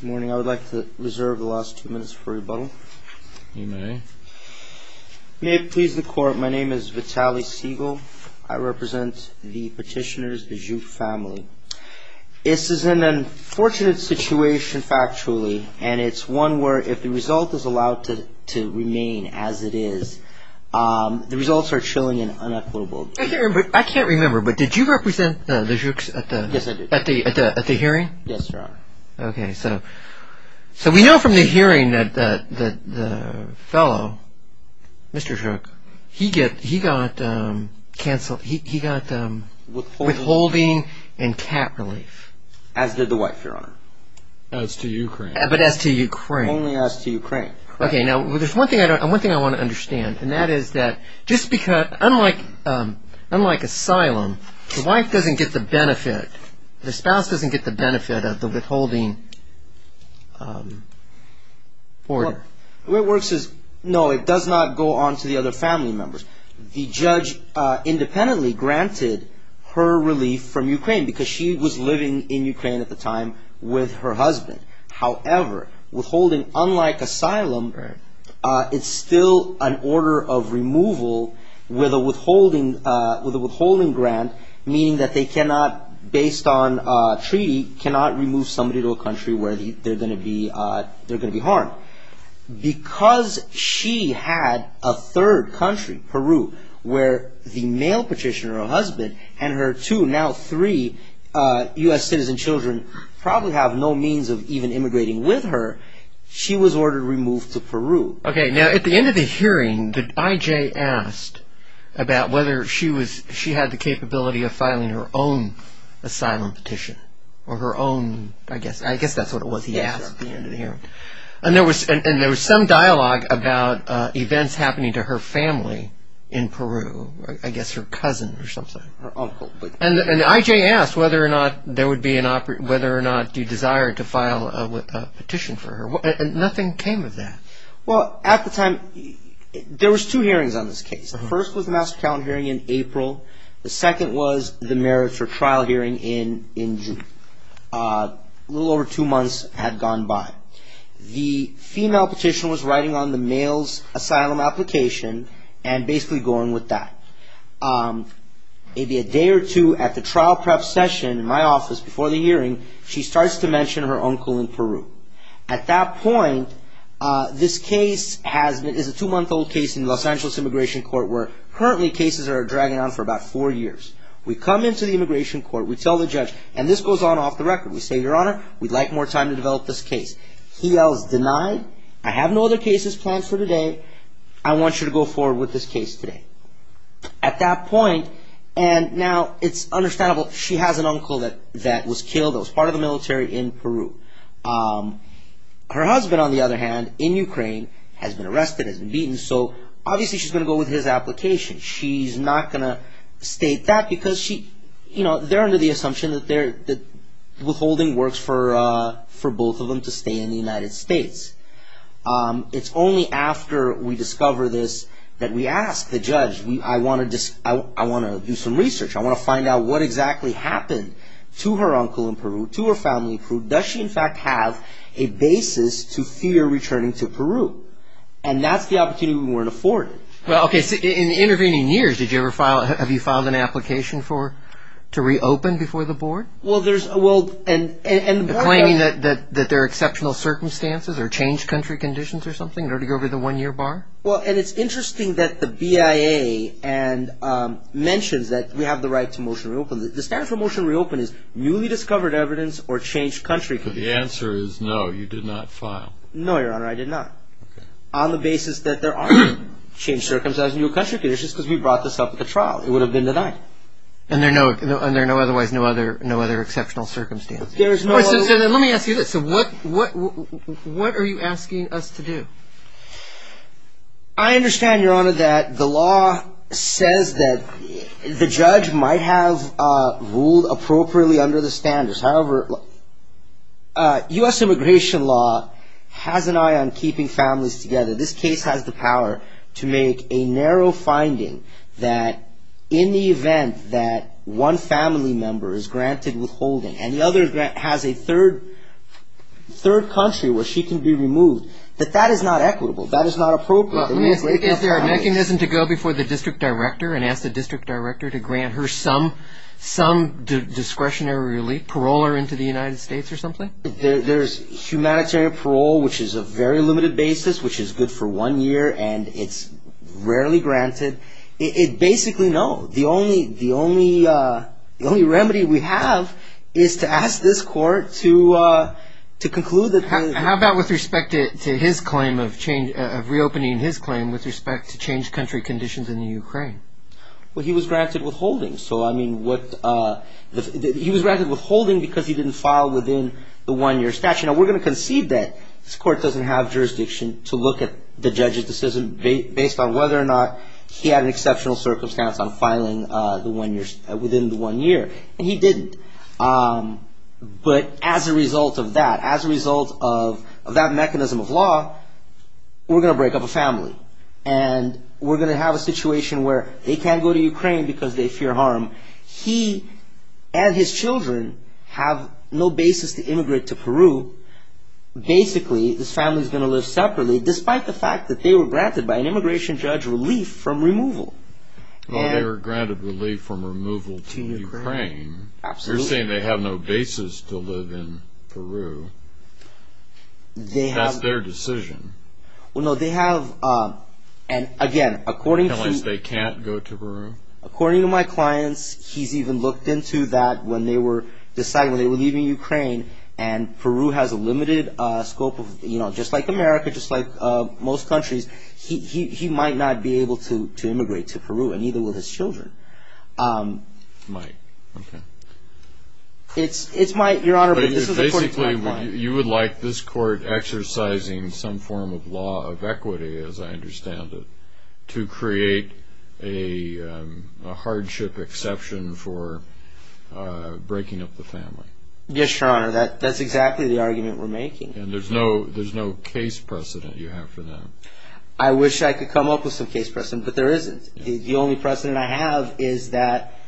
Good morning. I would like to reserve the last two minutes for rebuttal. You may. May it please the Court, my name is Vitaly Segal. I represent the petitioners, the Zhuk family. This is an unfortunate situation, factually, and it's one where if the result is allowed to remain as it is, the results are chilling and unequitable. I can't remember, but did you represent the Zhuks at the hearing? Yes, Your Honor. Okay, so we know from the hearing that the fellow, Mr. Zhuk, he got withholding and cap relief. As did the wife, Your Honor. As to Ukraine. But as to Ukraine. Only as to Ukraine. Okay, now there's one thing I want to understand, and that is that just because, unlike asylum, the wife doesn't get the benefit, the spouse doesn't get the benefit of the withholding order. The way it works is, no, it does not go on to the other family members. The judge independently granted her relief from Ukraine because she was living in Ukraine at the time with her husband. However, withholding, unlike asylum, it's still an order of removal with a withholding grant, meaning that they cannot, based on treaty, cannot remove somebody to a country where they're going to be harmed. Because she had a third country, Peru, where the male petitioner, her husband, and her two, now three, U.S. citizen children probably have no means of even immigrating with her. She was ordered removed to Peru. Okay, now at the end of the hearing, the I.J. asked about whether she had the capability of filing her own asylum petition, or her own, I guess that's what it was he asked at the end of the hearing. And there was some dialogue about events happening to her family in Peru, I guess her cousin or something. Her uncle. Her uncle. And the I.J. asked whether or not there would be an, whether or not you desired to file a petition for her. Nothing came of that. Well, at the time, there was two hearings on this case. The first was the master count hearing in April. The second was the merits for trial hearing in June. A little over two months had gone by. The female petitioner was writing on the male's asylum application and basically going with that. Maybe a day or two at the trial prep session in my office before the hearing, she starts to mention her uncle in Peru. At that point, this case is a two-month-old case in Los Angeles Immigration Court where currently cases are dragging on for about four years. We come into the immigration court, we tell the judge, and this goes on off the record. We say, Your Honor, we'd like more time to develop this case. He yells, Denied. I have no other cases planned for today. I want you to go forward with this case today. At that point, and now it's understandable, she has an uncle that was killed. It was part of the military in Peru. Her husband, on the other hand, in Ukraine, has been arrested, has been beaten, so obviously she's going to go with his application. She's not going to state that because they're under the assumption that withholding works for both of them to stay in the United States. It's only after we discover this that we ask the judge, I want to do some research. I want to find out what exactly happened to her uncle in Peru, to her family in Peru. Does she, in fact, have a basis to fear returning to Peru? And that's the opportunity we weren't afforded. Okay, so in the intervening years, have you filed an application to reopen before the board? Claiming that there are exceptional circumstances or changed country conditions or something, or to go over the one-year bar? Well, and it's interesting that the BIA mentions that we have the right to motion to reopen. The standard for motion to reopen is newly discovered evidence or changed country conditions. But the answer is no, you did not file. No, Your Honor, I did not. On the basis that there are no changed circumstances or new country conditions because we brought this up at the trial. It would have been denied. And there are no other exceptional circumstances. Let me ask you this. What are you asking us to do? I understand, Your Honor, that the law says that the judge might have ruled appropriately under the standards. However, U.S. immigration law has an eye on keeping families together. This case has the power to make a narrow finding that in the event that one family member is granted withholding and the other has a third country where she can be removed, that that is not equitable. That is not appropriate. Let me ask you this. Is there a mechanism to go before the district director and ask the district director to grant her some discretionary relief, parole her into the United States or something? There's humanitarian parole, which is a very limited basis, which is good for one year, and it's rarely granted. It basically, no. The only remedy we have is to ask this court to conclude that. How about with respect to his claim of reopening his claim with respect to changed country conditions in the Ukraine? Well, he was granted withholding. So, I mean, he was granted withholding because he didn't file within the one-year statute. Now, we're going to concede that this court doesn't have jurisdiction to look at the judge's decision based on whether or not he had an exceptional circumstance on filing within the one year, and he didn't. But as a result of that, as a result of that mechanism of law, we're going to break up a family, and we're going to have a situation where they can't go to Ukraine because they fear harm. He and his children have no basis to immigrate to Peru. Basically, this family is going to live separately, despite the fact that they were granted by an immigration judge relief from removal. Well, they were granted relief from removal to Ukraine. Absolutely. You're saying they have no basis to live in Peru. That's their decision. Well, no, they have. And, again, according to my clients, he's even looked into that when they were deciding, when they were leaving Ukraine, and Peru has a limited scope of, you know, just like America, just like most countries, he might not be able to immigrate to Peru, and neither will his children. He might. Okay. You would like this court exercising some form of law of equity, as I understand it, to create a hardship exception for breaking up the family. Yes, Your Honor. That's exactly the argument we're making. And there's no case precedent you have for them. I wish I could come up with some case precedent, but there isn't. The only precedent I have is that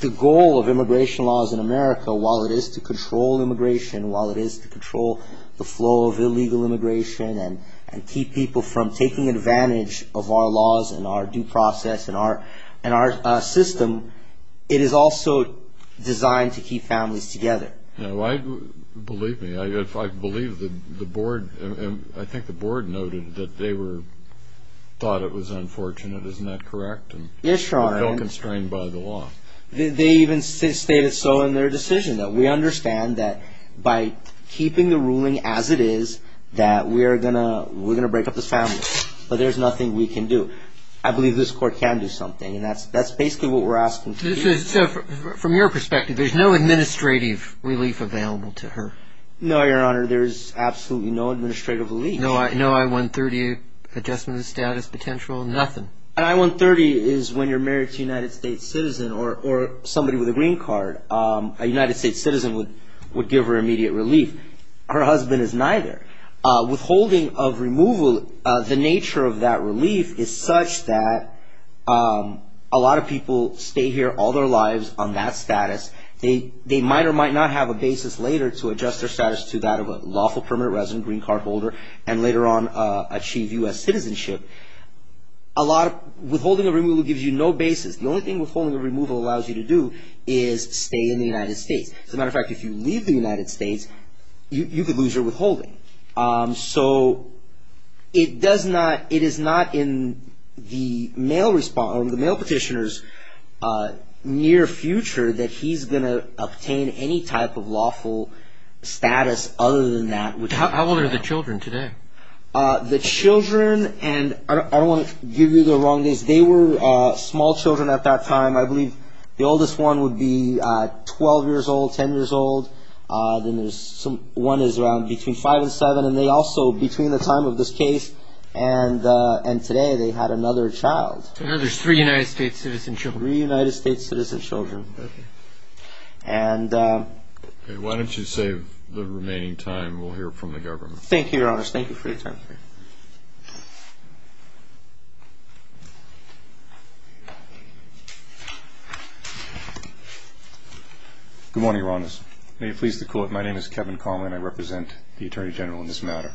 the goal of immigration laws in America, while it is to control immigration, while it is to control the flow of illegal immigration and keep people from taking advantage of our laws and our due process and our system, it is also designed to keep families together. Now, believe me, I believe the board, I think the board noted that they thought it was unfortunate. Isn't that correct? Yes, Your Honor. They felt constrained by the law. They even stated so in their decision that we understand that by keeping the ruling as it is, that we're going to break up this family, but there's nothing we can do. I believe this court can do something, and that's basically what we're asking to do. From your perspective, there's no administrative relief available to her? No, Your Honor. There's absolutely no administrative relief. No I-130 adjustment of status potential? Nothing. An I-130 is when you're married to a United States citizen or somebody with a green card. A United States citizen would give her immediate relief. Her husband is neither. Withholding of removal, the nature of that relief is such that a lot of people stay here all their lives on that status. They might or might not have a basis later to adjust their status to that of a lawful permanent resident, green card holder, and later on achieve U.S. citizenship. Withholding of removal gives you no basis. The only thing withholding of removal allows you to do is stay in the United States. As a matter of fact, if you leave the United States, you could lose your withholding. So it does not, it is not in the mail petitioner's near future that he's going to obtain any type of lawful status other than that. How old are the children today? The children, and I don't want to give you the wrong guess, they were small children at that time. I believe the oldest one would be 12 years old, 10 years old. Then there's some, one is around between five and seven. And they also, between the time of this case and today, they had another child. So there's three United States citizen children. Three United States citizen children. Okay. And. Okay, why don't you save the remaining time. We'll hear from the government. Thank you, Your Honor. Thank you for your time. Okay. Good morning, Your Honors. May it please the Court, my name is Kevin Conley, and I represent the Attorney General in this matter.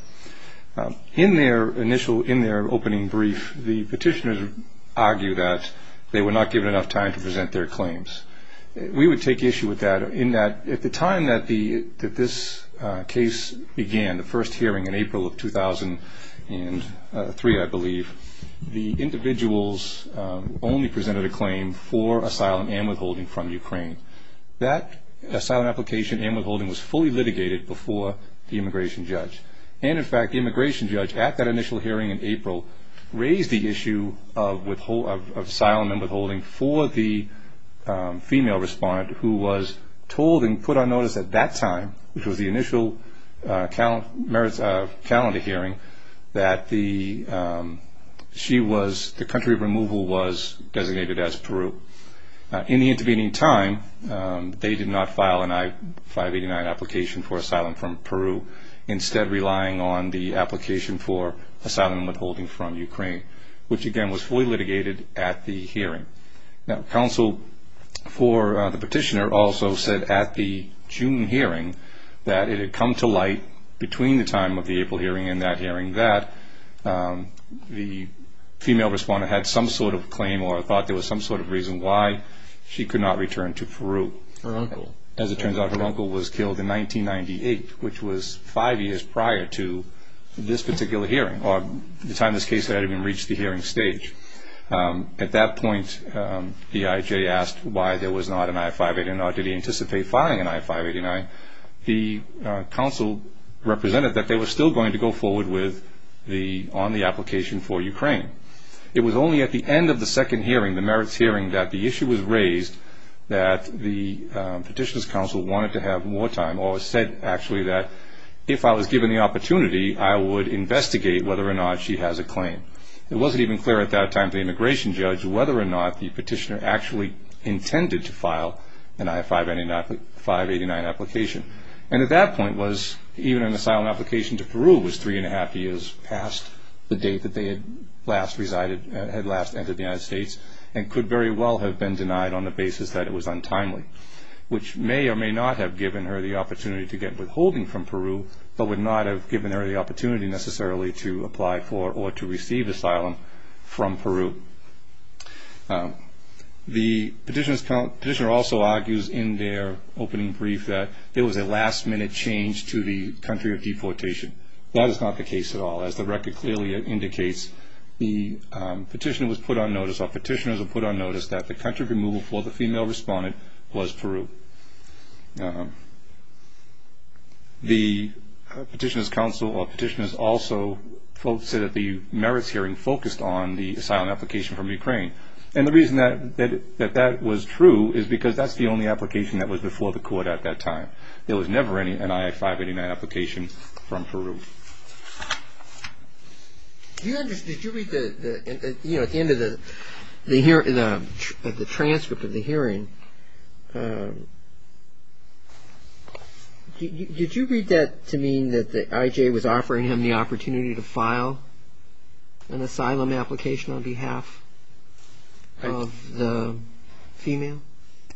In their initial, in their opening brief, the petitioners argue that they were not given enough time to present their claims. We would take issue with that in that at the time that this case began, the first hearing in April of 2003, I believe, the individuals only presented a claim for asylum and withholding from Ukraine. That asylum application and withholding was fully litigated before the immigration judge. And, in fact, the immigration judge at that initial hearing in April raised the issue of asylum and withholding for the female respondent who was told and put on notice at that time, which was the initial calendar hearing, that the country of removal was designated as Peru. In the intervening time, they did not file an I-589 application for asylum from Peru, instead relying on the application for asylum and withholding from Ukraine, which, again, was fully litigated at the hearing. Now, counsel for the petitioner also said at the June hearing that it had come to light, between the time of the April hearing and that hearing, that the female respondent had some sort of claim or thought there was some sort of reason why she could not return to Peru. Her uncle. As it turns out, her uncle was killed in 1998, which was five years prior to this particular hearing, or the time this case had even reached the hearing stage. At that point, the IJ asked why there was not an I-589. Did he anticipate filing an I-589? The counsel represented that they were still going to go forward on the application for Ukraine. It was only at the end of the second hearing, the merits hearing, that the issue was raised, that the petitioner's counsel wanted to have more time or said, actually, that if I was given the opportunity, I would investigate whether or not she has a claim. It wasn't even clear at that time to the immigration judge whether or not the petitioner actually intended to file an I-589 application. And at that point, even an asylum application to Peru was three and a half years past the date that they had last entered the United States and could very well have been denied on the basis that it was untimely, which may or may not have given her the opportunity to get withholding from Peru, but would not have given her the opportunity necessarily to apply for or to receive asylum from Peru. The petitioner also argues in their opening brief that it was a last-minute change to the country of deportation. That is not the case at all. As the record clearly indicates, the petitioner was put on notice or petitioners were put on notice that the country of removal for the female respondent was Peru. The petitioner's counsel or petitioner also said that the merits hearing focused on the asylum application from Ukraine. And the reason that that was true is because that's the only application that was before the court at that time. There was never any I-589 application from Peru. Did you read the transcript of the hearing? Did you read that to mean that the IJ was offering him the opportunity to file an asylum application on behalf of the female?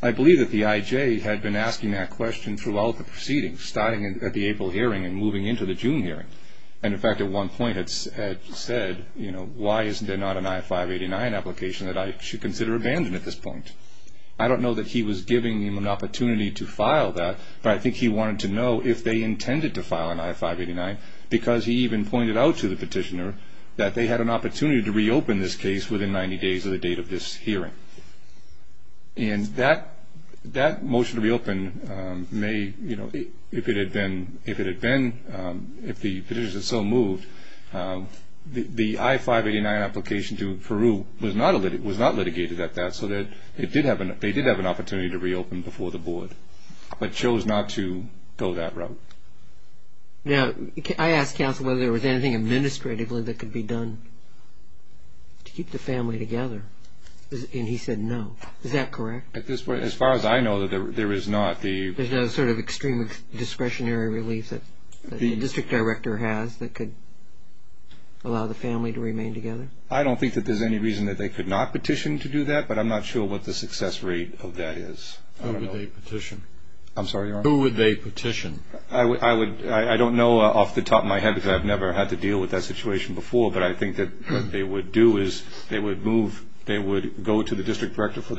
I believe that the IJ had been asking that question throughout the proceedings, starting at the April hearing and moving into the June hearing. And, in fact, at one point had said, you know, why is there not an I-589 application that I should consider abandoned at this point? I don't know that he was giving him an opportunity to file that, but I think he wanted to know if they intended to file an I-589 because he even pointed out to the petitioner that they had an opportunity to reopen this case within 90 days of the date of this hearing. And that motion to reopen may, you know, if it had been, if the petitioner had so moved, the I-589 application to Peru was not litigated at that, so that they did have an opportunity to reopen before the board, but chose not to go that route. Now, I asked counsel whether there was anything administratively that could be done to keep the family together. And he said no. Is that correct? As far as I know, there is not. There's no sort of extreme discretionary relief that the district director has that could allow the family to remain together? I don't think that there's any reason that they could not petition to do that, but I'm not sure what the success rate of that is. Who would they petition? I'm sorry, Your Honor? Who would they petition? I don't know off the top of my head because I've never had to deal with that situation before, but I think that what they would do is they would move, they would go to the district director for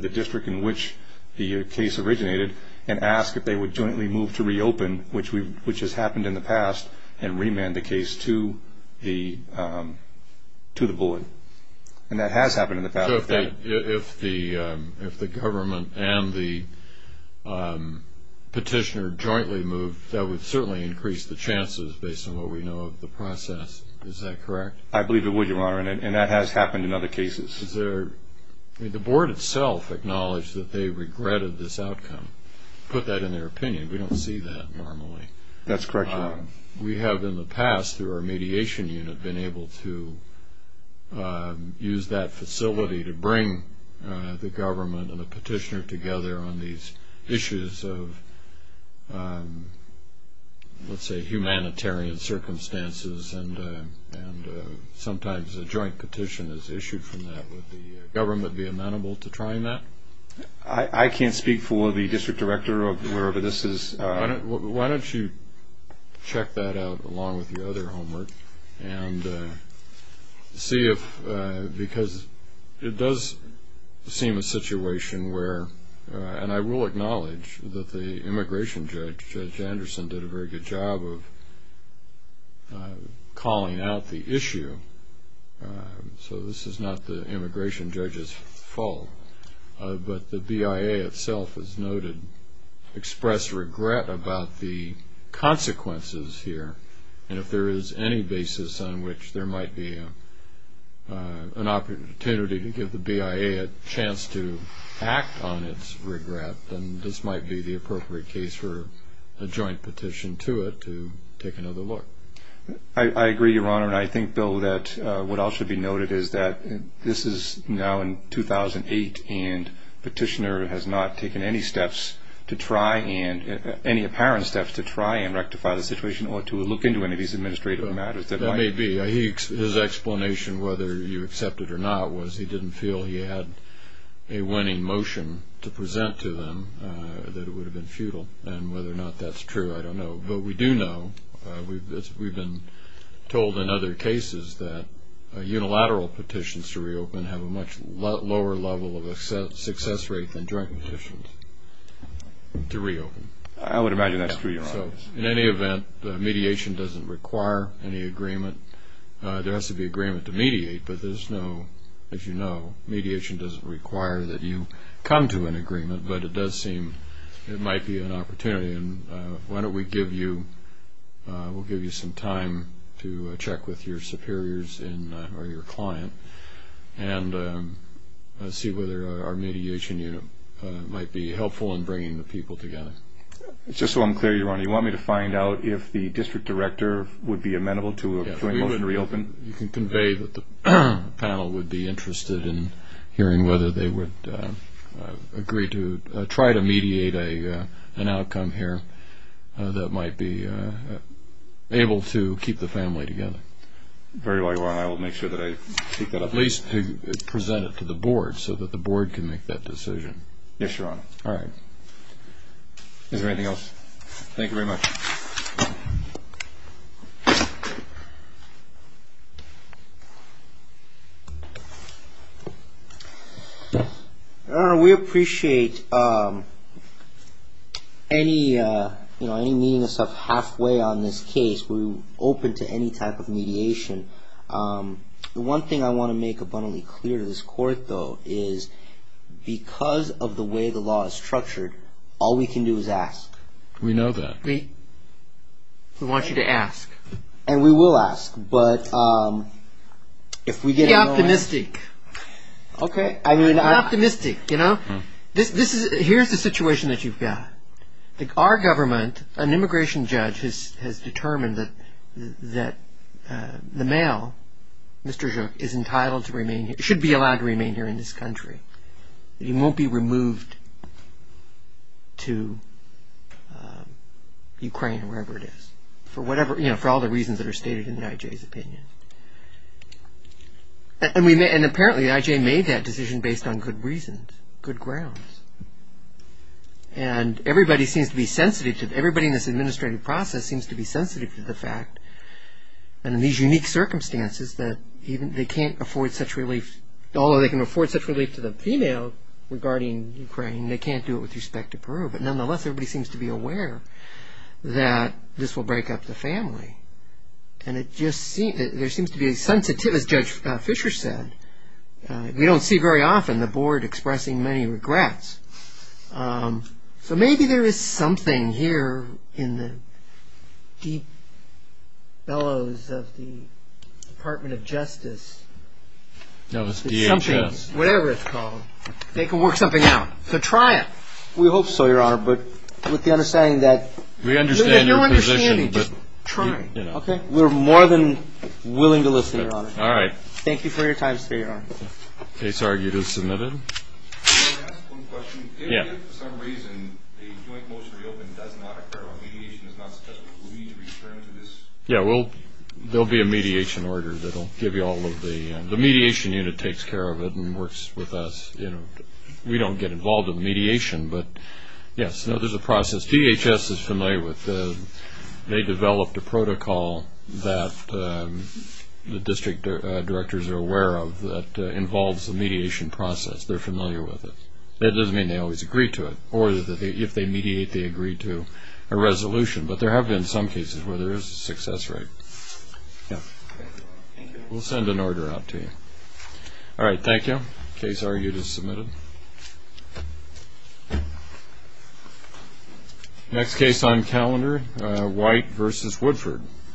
the district in which the case originated and ask if they would jointly move to reopen, which has happened in the past, and remand the case to the board. And that has happened in the past. So if the government and the petitioner jointly move, that would certainly increase the chances based on what we know of the process. Is that correct? I believe it would, Your Honor, and that has happened in other cases. The board itself acknowledged that they regretted this outcome, put that in their opinion. We don't see that normally. That's correct, Your Honor. We have in the past through our mediation unit been able to use that facility to bring the government and the petitioner together on these issues of, let's say, humanitarian circumstances, and sometimes a joint petition is issued from that. Would the government be amenable to trying that? I can't speak for the district director or whoever this is. Why don't you check that out along with your other homework and see if because it does seem a situation where, and I will acknowledge that the immigration judge, Judge Anderson, did a very good job of calling out the issue. So this is not the immigration judge's fault. But the BIA itself has noted expressed regret about the consequences here, and if there is any basis on which there might be an opportunity to give the BIA a chance to act on its regret, then this might be the appropriate case for a joint petition to it to take another look. I agree, Your Honor, and I think, Bill, that what else should be noted is that this is now in 2008, and the petitioner has not taken any steps to try, any apparent steps to try and rectify the situation or to look into any of these administrative matters. That may be. His explanation, whether you accept it or not, was he didn't feel he had a winning motion to present to them that it would have been futile, and whether or not that's true, I don't know. But we do know, we've been told in other cases that unilateral petitions to reopen have a much lower level of success rate than joint petitions to reopen. So in any event, mediation doesn't require any agreement. There has to be agreement to mediate, but there's no, as you know, mediation doesn't require that you come to an agreement, but it does seem it might be an opportunity, and why don't we give you, we'll give you some time to check with your superiors or your client and see whether our mediation unit might be helpful in bringing the people together. Just so I'm clear, Your Honor, you want me to find out if the district director would be amenable to a joint motion to reopen? You can convey that the panel would be interested in hearing whether they would agree to try to mediate an outcome here that might be able to keep the family together. Very well, Your Honor, I will make sure that I take that up. At least present it to the board so that the board can make that decision. Yes, Your Honor. All right. Is there anything else? Thank you very much. Your Honor, we appreciate any, you know, any meaning of stuff halfway on this case. We're open to any type of mediation. The one thing I want to make abundantly clear to this Court, though, is because of the way the law is structured, all we can do is ask. We know that. We want you to ask. And we will ask. Be optimistic. Okay. Be optimistic, you know. Here's the situation that you've got. Our government, an immigration judge has determined that the male, Mr. Zhuk, is entitled to remain here, should be allowed to remain here in this country. He won't be removed to Ukraine or wherever it is for whatever, you know, for all the reasons that are stated in the I.J.'s opinion. And apparently the I.J. made that decision based on good reasons, good grounds. And everybody seems to be sensitive, everybody in this administrative process seems to be sensitive to the fact, and in these unique circumstances, that they can't afford such relief, although they can afford such relief to the female regarding Ukraine, they can't do it with respect to Peru. But nonetheless, everybody seems to be aware that this will break up the family. And it just seems, there seems to be a sensitive, as Judge Fisher said, we don't see very often the board expressing many regrets. So maybe there is something here in the deep bellows of the Department of Justice. No, it's DHS. Whatever it's called. They can work something out. So try it. We hope so, Your Honor, but with the understanding that We understand your position, but We're more than willing to listen, Your Honor. All right. Thank you for your time, sir, Your Honor. Case argued as submitted. Can I ask one question? Yeah. If, for some reason, a joint motion to reopen does not occur, or mediation is not successful, will we need to return to this? Yeah, well, there will be a mediation order that will give you all of the The mediation unit takes care of it and works with us. We don't get involved in mediation, but yes, there's a process. DHS is familiar with it. They developed a protocol that the district directors are aware of that involves the mediation process. They're familiar with it. That doesn't mean they always agree to it, or that if they mediate, they agree to a resolution. But there have been some cases where there is a success rate. Yeah. We'll send an order out to you. All right. Thank you. Case argued as submitted. Thank you. Next case on calendar, White v. Woodford.